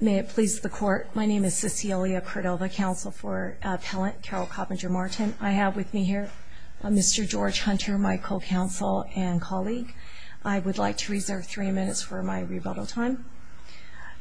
May it please the Court, my name is Cecilia Cordova, Counsel for Appellant Carole Coppinger-Martin. I have with me here Mr. George Hunter, my co-counsel and colleague. I would like to reserve three minutes for my rebuttal time.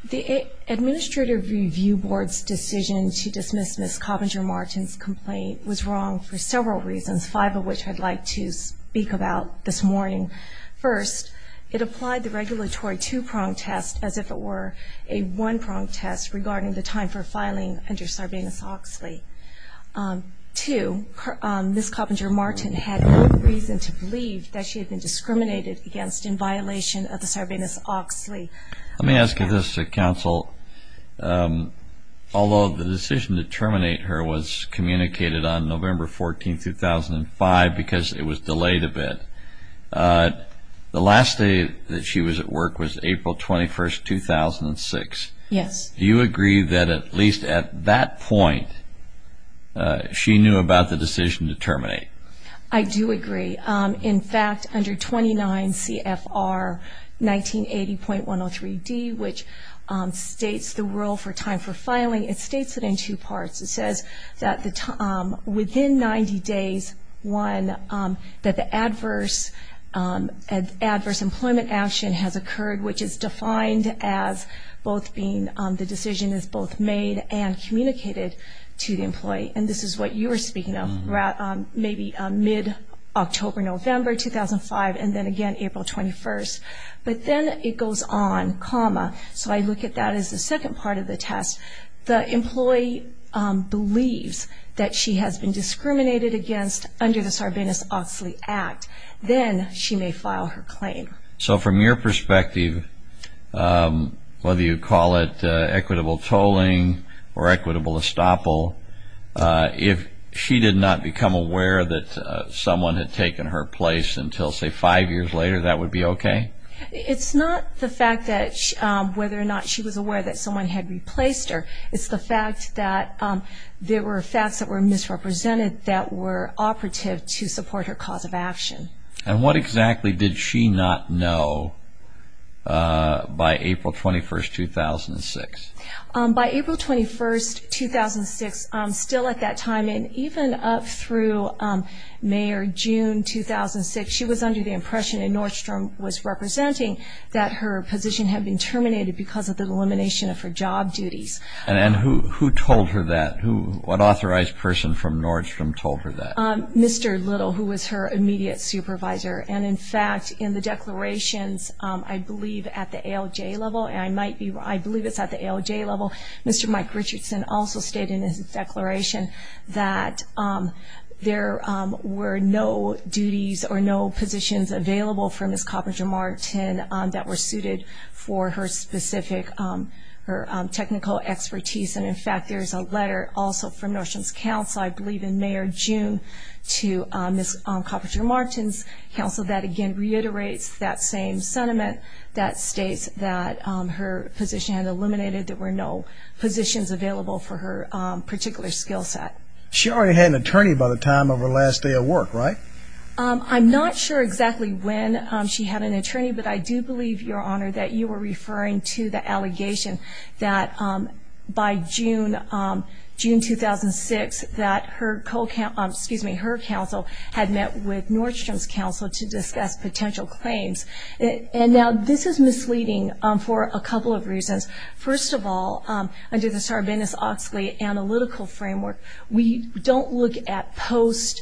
The Administrative Review Board's decision to dismiss Ms. Coppinger-Martin's complaint was wrong for several reasons, five of which I'd like to speak about this morning. First, it applied the regulatory two-prong test as if it were a one-prong test regarding the time for filing under Sarbanes-Oxley. Two, Ms. Coppinger-Martin had no reason to believe that she had been discriminated against in violation of the Sarbanes-Oxley. Let me ask you this, Counsel. Although the decision to terminate her was communicated on November 14, 2005 because it was delayed a bit, the last day that she was at work was April 21, 2006. Yes. Do you agree that at least at that point she knew about the decision to terminate? I do agree. In fact, under 29 CFR 1980.103D, which states the rule for time for filing, it states it in two parts. It says that within 90 days, one, that the adverse employment action has occurred, which is defined as the decision is both made and communicated to the employee. And this is what you were speaking of, maybe mid-October, November 2005, and then again April 21. But then it goes on, comma, so I look at that as the second part of the test. The employee believes that she has been discriminated against under the Sarbanes-Oxley Act. Then she may file her claim. So from your perspective, whether you call it equitable tolling or equitable estoppel, if she did not become aware that someone had taken her place until, say, five years later, that would be okay? It's not the fact that whether or not she was aware that someone had replaced her. It's the fact that there were facts that were misrepresented that were operative to support her cause of action. And what exactly did she not know by April 21, 2006? By April 21, 2006, still at that time, and even up through May or June 2006, she was under the impression, and Nordstrom was representing, that her position had been terminated because of the elimination of her job duties. And who told her that? What authorized person from Nordstrom told her that? Mr. Little, who was her immediate supervisor. And, in fact, in the declarations, I believe at the ALJ level, and I believe it's at the ALJ level, Mr. Mike Richardson also stated in his declaration that there were no duties or no positions available for Ms. Coppinger-Martin that were suited for her specific technical expertise. And, in fact, there is a letter also from Nordstrom's counsel, I believe in May or June, to Ms. Coppinger-Martin's counsel that, again, reiterates that same sentiment that states that her position had eliminated, there were no positions available for her particular skill set. She already had an attorney by the time of her last day of work, right? I'm not sure exactly when she had an attorney, but I do believe, Your Honor, that you were referring to the allegation that by June 2006, that her counsel had met with Nordstrom's counsel to discuss potential claims. And, now, this is misleading for a couple of reasons. First of all, under the Sarbanes-Oxley analytical framework, we don't look at post-SEC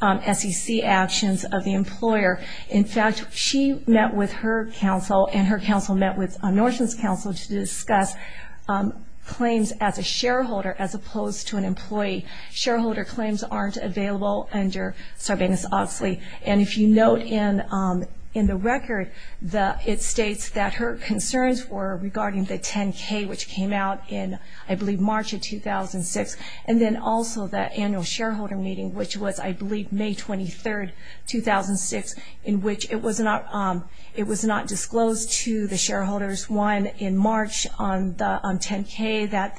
actions of the employer. In fact, she met with her counsel and her counsel met with Nordstrom's counsel to discuss claims as a shareholder as opposed to an employee. Shareholder claims aren't available under Sarbanes-Oxley. And if you note in the record, it states that her concerns were regarding the 10-K, which came out in, I believe, March of 2006, and then also the annual shareholder meeting, which was, I believe, May 23, 2006, in which it was not disclosed to the shareholders, one, in March on 10-K, that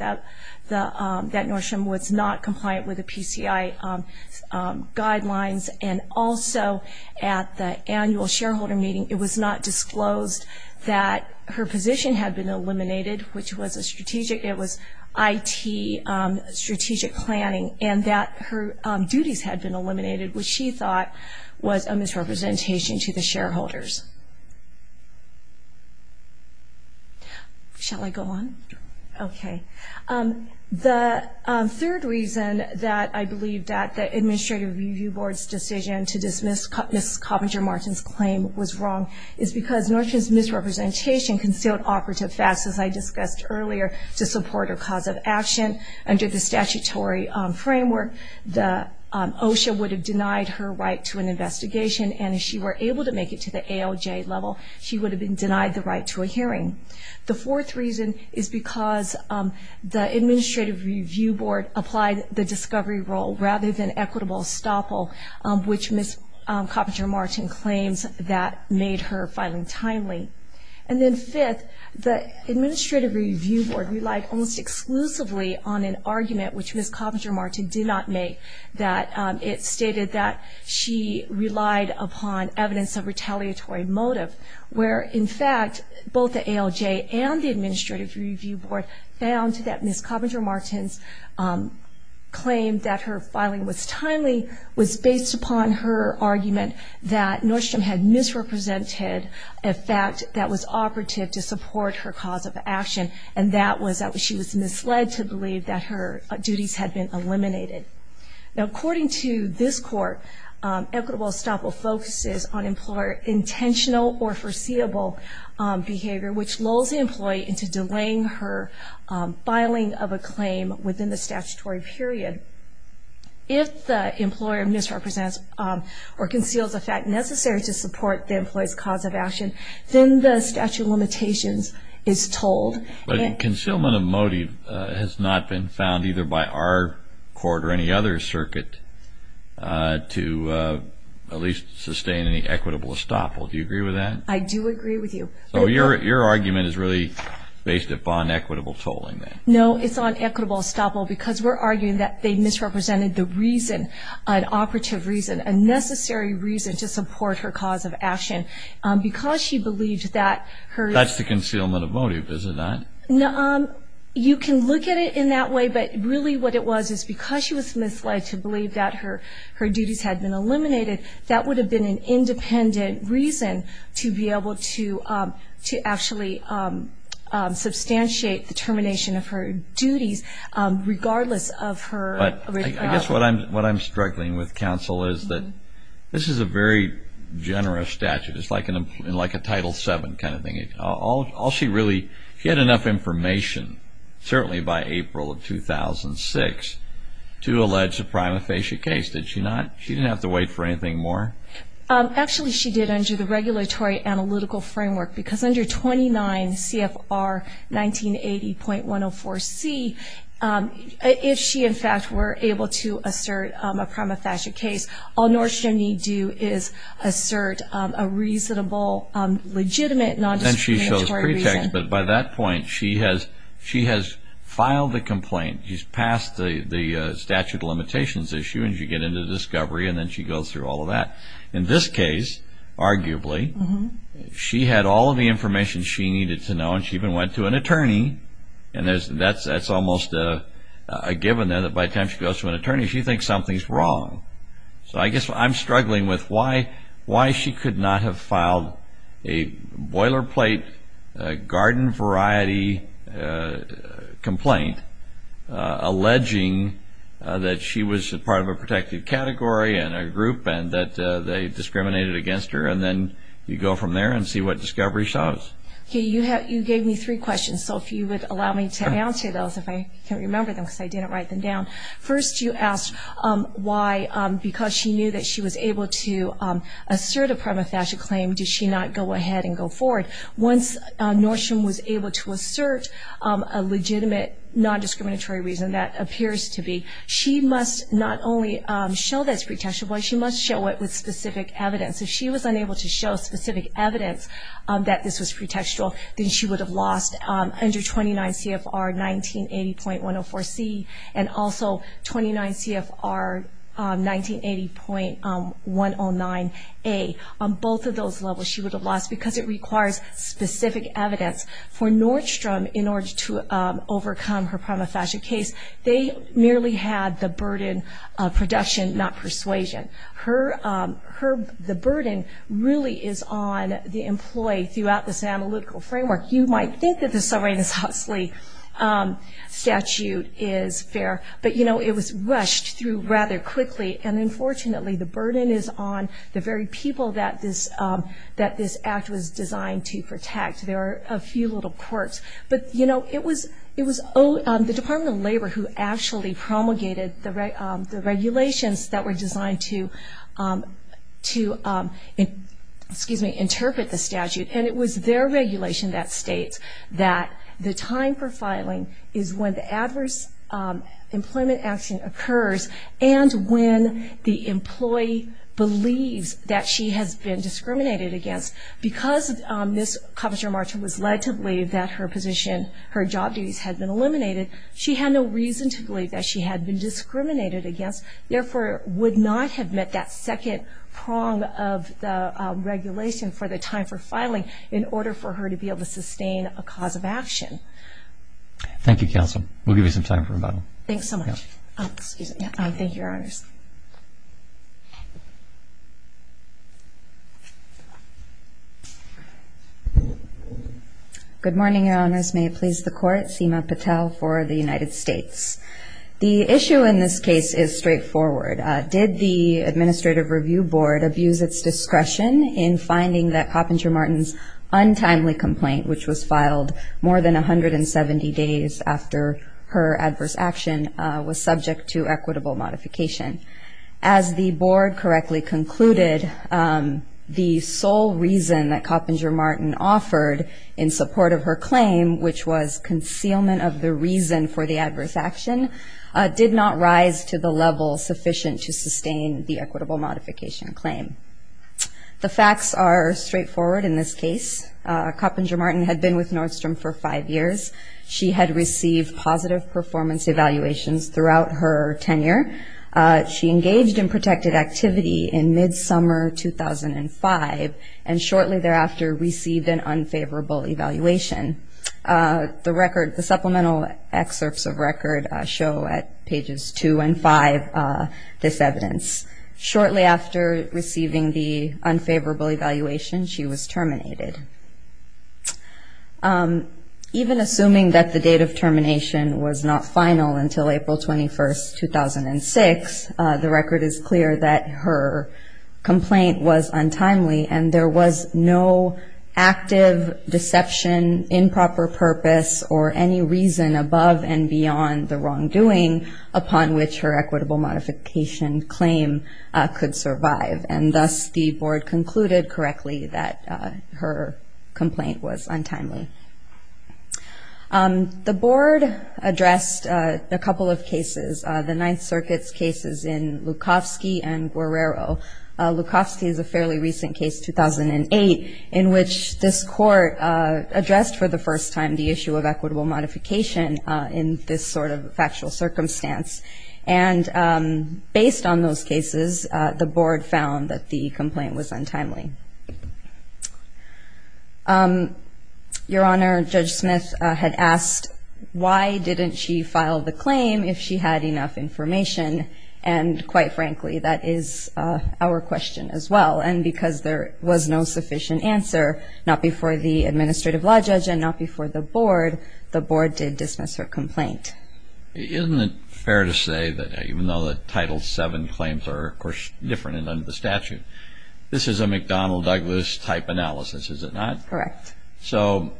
Nordstrom was not compliant with the PCI guidelines and also at the annual shareholder meeting it was not disclosed that her position had been eliminated, which was a strategic, it was IT strategic planning, and that her duties had been eliminated, which she thought was a misrepresentation to the shareholders. Shall I go on? Okay. The third reason that I believe that the Administrative Review Board's decision to dismiss Ms. Coppinger-Martin's claim was wrong is because Nordstrom's misrepresentation concealed operative facts, as I discussed earlier, to support her cause of action. Under the statutory framework, OSHA would have denied her right to an investigation, and if she were able to make it to the ALJ level, she would have been denied the right to a hearing. The fourth reason is because the Administrative Review Board applied the discovery rule, rather than equitable estoppel, which Ms. Coppinger-Martin claims that made her filing timely. And then fifth, the Administrative Review Board relied almost exclusively on an argument, which Ms. Coppinger-Martin did not make, that it stated that she relied upon evidence of retaliatory motive, where in fact both the ALJ and the Administrative Review Board found that Ms. Coppinger-Martin's claim that her filing was timely was based upon her argument that Nordstrom had misrepresented a fact that was operative to support her cause of action, and that was that she was misled to believe that her duties had been eliminated. Now according to this court, equitable estoppel focuses on employer intentional or foreseeable behavior, which lulls the employee into delaying her filing of a claim within the statutory period. If the employer misrepresents or conceals a fact necessary to support the employee's cause of action, then the statute of limitations is told. But concealment of motive has not been found either by our court or any other circuit to at least sustain any equitable estoppel. Do you agree with that? I do agree with you. So your argument is really based upon equitable tolling then? No, it's on equitable estoppel because we're arguing that they misrepresented the reason, an operative reason, a necessary reason to support her cause of action, because she believed that her... That's the concealment of motive, is it not? You can look at it in that way, but really what it was is because she was misled to believe that her duties had been eliminated, that would have been an independent reason to be able to actually substantiate the termination of her duties regardless of her... But I guess what I'm struggling with, counsel, is that this is a very generous statute. It's like a Title VII kind of thing. All she really... She had enough information, certainly by April of 2006, to allege a prima facie case, did she not? She didn't have to wait for anything more? Actually, she did under the regulatory analytical framework because under 29 CFR 1980.104C, if she, in fact, were able to assert a prima facie case, all North Germany do is assert a reasonable, legitimate non-discriminatory reason. Then she shows pretext, but by that point she has filed the complaint. She's passed the statute of limitations issue, and she gets into discovery, and then she goes through all of that. In this case, arguably, she had all of the information she needed to know, and she even went to an attorney. That's almost a given there that by the time she goes to an attorney, she thinks something's wrong. I guess I'm struggling with why she could not have filed a boilerplate garden variety complaint alleging that she was part of a protected category and a group and that they discriminated against her, and then you go from there and see what discovery shows. You gave me three questions, so if you would allow me to answer those, if I can remember them because I didn't write them down. First, you asked why, because she knew that she was able to assert a prima facie claim, did she not go ahead and go forward? Once North Germany was able to assert a legitimate non-discriminatory reason, that appears to be, she must not only show that it's pretextual, but she must show it with specific evidence. If she was unable to show specific evidence that this was pretextual, then she would have lost under 29 CFR 1980.104C and also 29 CFR 1980.109A. Both of those levels she would have lost because it requires specific evidence. For Nordstrom, in order to overcome her prima facie case, they merely had the burden of production, not persuasion. The burden really is on the employee throughout this analytical framework. You might think that the Serena Susslie statute is fair, but it was rushed through rather quickly, and unfortunately the burden is on the very people that this act was designed to protect. There are a few little quirks. It was the Department of Labor who actually promulgated the regulations that were designed to interpret the statute, and it was their regulation that states that the time for filing is when the adverse employment action occurs and when the employee believes that she has been discriminated against. Because this Commissioner Marchant was led to believe that her job duties had been eliminated, she had no reason to believe that she had been discriminated against, therefore would not have met that second prong of the regulation for the time for filing in order for her to be able to sustain a cause of action. Thank you, Counsel. We'll give you some time for rebuttal. Thanks so much. Thank you, Your Honors. Good morning, Your Honors. May it please the Court. Seema Patel for the United States. The issue in this case is straightforward. Did the Administrative Review Board abuse its discretion in finding that Coppinger-Martin's untimely complaint, which was filed more than 170 days after her adverse action, was subject to equitable modification? As the Board correctly concluded, the sole reason that Coppinger-Martin offered in support of her claim, which was concealment of the reason for the adverse action, did not rise to the level sufficient to sustain the equitable modification claim. The facts are straightforward in this case. Coppinger-Martin had been with Nordstrom for five years. She had received positive performance evaluations throughout her tenure. She engaged in protected activity in mid-summer 2005 and shortly thereafter received an unfavorable evaluation. The supplemental excerpts of record show at pages 2 and 5 this evidence. Shortly after receiving the unfavorable evaluation, she was terminated. Even assuming that the date of termination was not final until April 21, 2006, the record is clear that her complaint was untimely and there was no active deception, improper purpose, or any reason above and beyond the wrongdoing upon which her equitable modification claim could survive. And thus, the Board concluded correctly that her complaint was untimely. The Board addressed a couple of cases, the Ninth Circuit's cases in Lukovsky and Guerrero. Lukovsky is a fairly recent case, 2008, in which this court addressed for the first time the issue of equitable modification in this sort of factual circumstance. And based on those cases, the Board found that the complaint was untimely. Your Honor, Judge Smith had asked, why didn't she file the claim if she had enough information? And quite frankly, that is our question as well. And because there was no sufficient answer, not before the administrative law judge and not before the Board, the Board did dismiss her complaint. Isn't it fair to say that even though the Title VII claims are, of course, different under the statute, this is a McDonnell-Douglas type analysis, is it not? Correct. So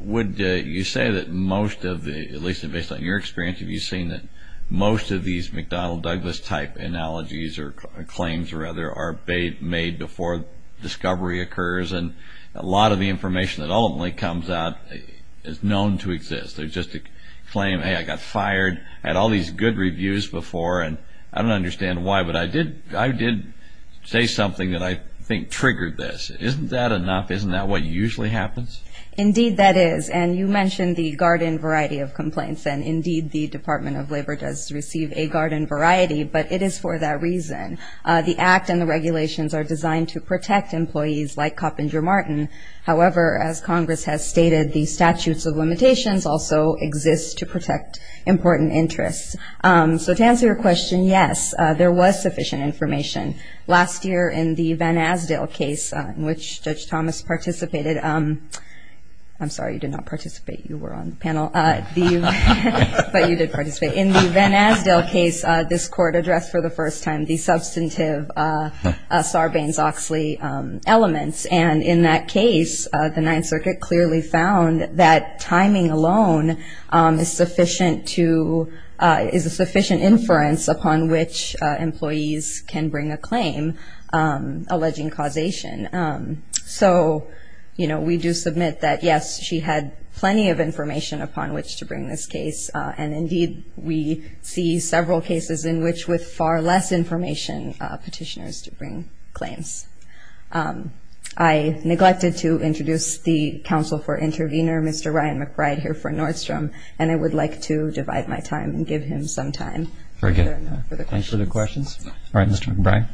would you say that most of the, at least based on your experience, have you seen that most of these McDonnell-Douglas type analogies or claims, rather, are made before discovery occurs and a lot of the information that ultimately comes out is known to exist? There's just a claim, hey, I got fired. I had all these good reviews before, and I don't understand why, but I did say something that I think triggered this. Isn't that enough? Isn't that what usually happens? Indeed, that is. And you mentioned the garden variety of complaints, and indeed the Department of Labor does receive a garden variety, but it is for that reason. The Act and the regulations are designed to protect employees like Coppinger Martin. However, as Congress has stated, the statutes of limitations also exist to protect important interests. So to answer your question, yes, there was sufficient information. Last year in the Van Asdale case in which Judge Thomas participated, I'm sorry, you did not participate, you were on the panel, but you did participate. In the Van Asdale case, this court addressed for the first time the substantive Sarbanes-Oxley elements, and in that case the Ninth Circuit clearly found that timing alone is sufficient to, is a sufficient inference upon which employees can bring a claim alleging causation. So, you know, we do submit that, yes, she had plenty of information upon which to bring this case, and indeed we see several cases in which with far less information petitioners to bring claims. I neglected to introduce the counsel for intervener, Mr. Ryan McBride, here for Nordstrom, and I would like to divide my time and give him some time. Very good. Thanks for the questions. All right, Mr. McBride.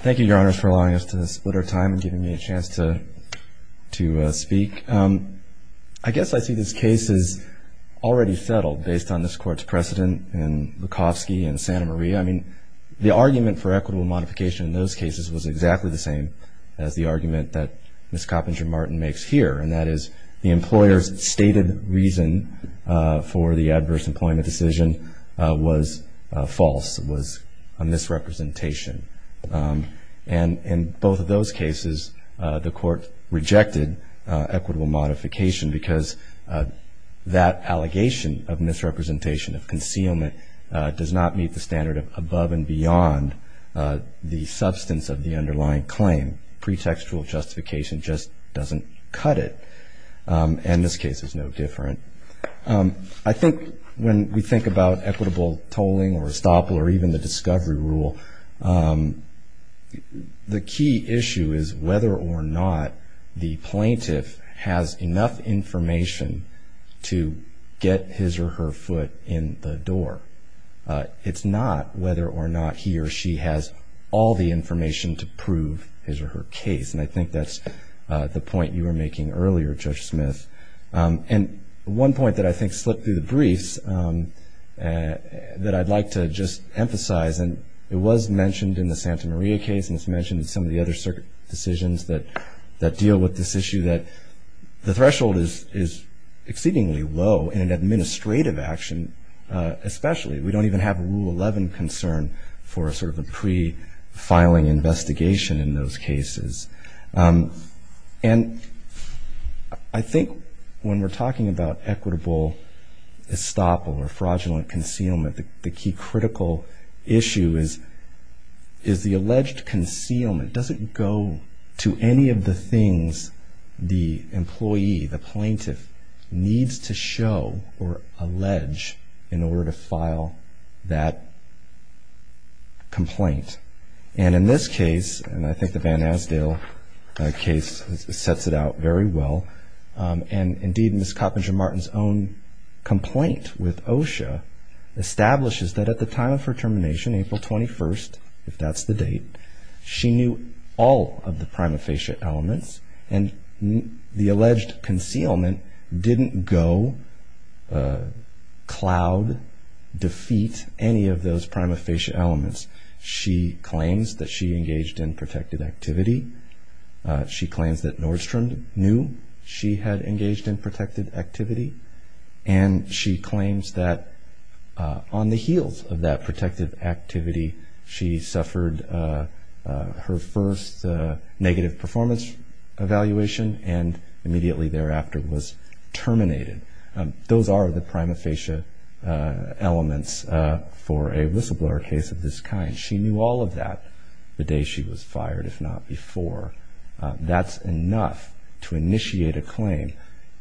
Thank you, Your Honors, for allowing us to split our time and giving me a chance to speak. I guess I see this case as already settled based on this court's precedent in Lukowski and Santa Maria. I mean, the argument for equitable modification in those cases was exactly the same as the argument that Ms. Coppinger-Martin makes here, and that is the employer's stated reason for the adverse employment decision was false, was a misrepresentation, and in both of those cases the court rejected equitable modification because that allegation of misrepresentation, of concealment, does not meet the standard of above and beyond the substance of the underlying claim. Pretextual justification just doesn't cut it, and this case is no different. I think when we think about equitable tolling or estoppel or even the discovery rule, the key issue is whether or not the plaintiff has enough information to get his or her foot in the door. It's not whether or not he or she has all the information to prove his or her case, and I think that's the point you were making earlier, Judge Smith. And one point that I think slipped through the briefs that I'd like to just emphasize, and it was mentioned in the Santa Maria case and it's mentioned in some of the other circuit decisions that deal with this issue, that the threshold is exceedingly low in an administrative action especially. We don't even have a Rule 11 concern for sort of a pre-filing investigation in those cases. And I think when we're talking about equitable estoppel or fraudulent concealment, I think the key critical issue is the alleged concealment. Does it go to any of the things the employee, the plaintiff, needs to show or allege in order to file that complaint? And in this case, and I think the Van Asdale case sets it out very well, and indeed Ms. Coppinger-Martin's own complaint with OSHA establishes that at the time of her termination, April 21st, if that's the date, she knew all of the prima facie elements, and the alleged concealment didn't go cloud, defeat any of those prima facie elements. She claims that she engaged in protected activity. She claims that Nordstrom knew she had engaged in protected activity. And she claims that on the heels of that protected activity, she suffered her first negative performance evaluation and immediately thereafter was terminated. Those are the prima facie elements for a whistleblower case of this kind. She knew all of that the day she was fired, if not before. That's enough to initiate a claim.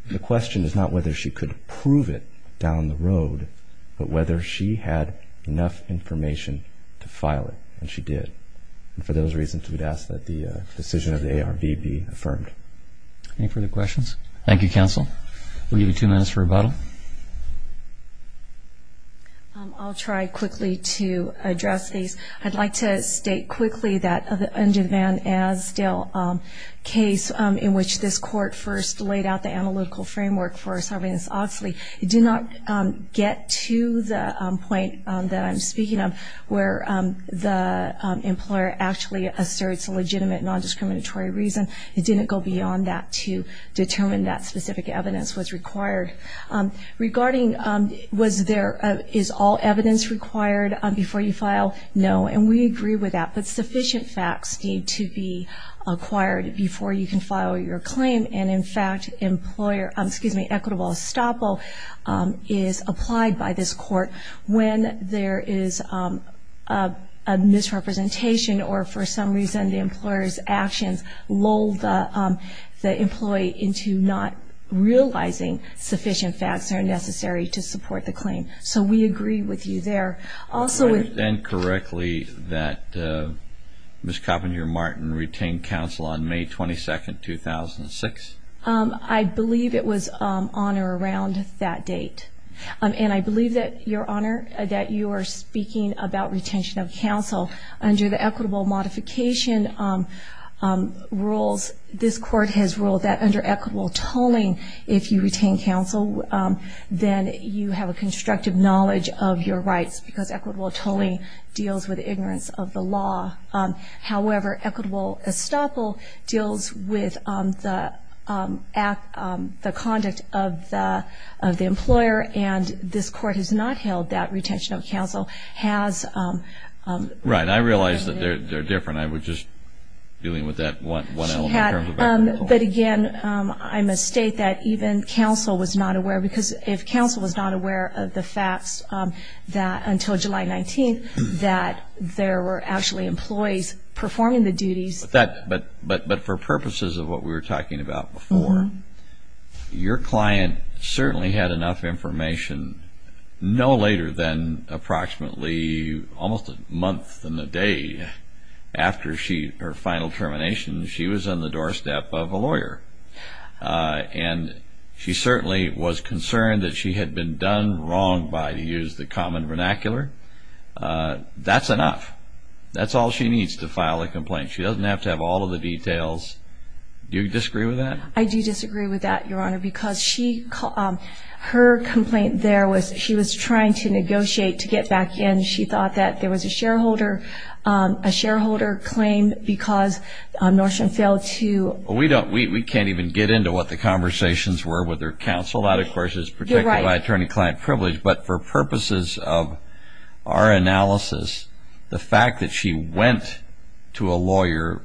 The question is not whether she could prove it down the road, but whether she had enough information to file it, and she did. And for those reasons, we'd ask that the decision of the ARB be affirmed. Any further questions? Thank you, counsel. We'll give you two minutes for rebuttal. I'll try quickly to address these. I'd like to state quickly that the Underman-Asdale case, in which this court first laid out the analytical framework for serving as Oxley, did not get to the point that I'm speaking of, where the employer actually asserts a legitimate nondiscriminatory reason. It didn't go beyond that to determine that specific evidence was required. Regarding was there, is all evidence required before you file, no. And we agree with that. But sufficient facts need to be acquired before you can file your claim. And, in fact, equitable estoppel is applied by this court when there is a misrepresentation or for some reason the employer's actions lull the employee into not realizing sufficient facts are necessary to support the claim. So we agree with you there. I understand correctly that Ms. Coppenhagen-Martin retained counsel on May 22, 2006? I believe it was on or around that date. And I believe that, Your Honor, that you are speaking about retention of counsel under the equitable modification rules. This court has ruled that under equitable tolling, if you retain counsel, then you have a constructive knowledge of your rights because equitable tolling deals with ignorance of the law. However, equitable estoppel deals with the conduct of the employer, and this court has not held that retention of counsel has... Right, I realize that they're different. I was just dealing with that one element in terms of equitable tolling. But, again, I must state that even counsel was not aware because if counsel was not aware of the facts until July 19th that there were actually employees performing the duties... But for purposes of what we were talking about before, Your client certainly had enough information no later than approximately almost a month and a day after her final termination, she was on the doorstep of a lawyer. And she certainly was concerned that she had been done wrong by, to use the common vernacular. That's enough. That's all she needs to file a complaint. She doesn't have to have all of the details. Do you disagree with that? I do disagree with that, Your Honor, because her complaint there was she was trying to negotiate to get back in. She thought that there was a shareholder claim because Norshin failed to... We can't even get into what the conversations were with her counsel. That, of course, is protected by attorney-client privilege. But for purposes of our analysis, the fact that she went to a lawyer,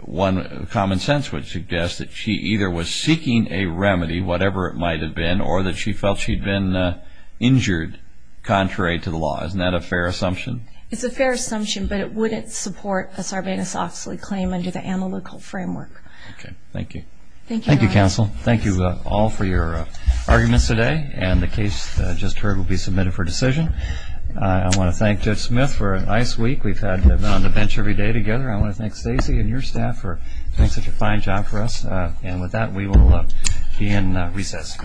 one common sense would suggest that she either was seeking a remedy, whatever it might have been, or that she felt she'd been injured contrary to the law. Isn't that a fair assumption? It's a fair assumption, but it wouldn't support a Sarbanes-Oxley claim under the analytical framework. Okay. Thank you. Thank you, Your Honor. Thank you, counsel. Thank you all for your arguments today, and the case just heard will be submitted for decision. I want to thank Judge Smith for a nice week. We've had to have been on the bench every day together. I want to thank Stacy and your staff for doing such a fine job for us. And with that, we will be in recess.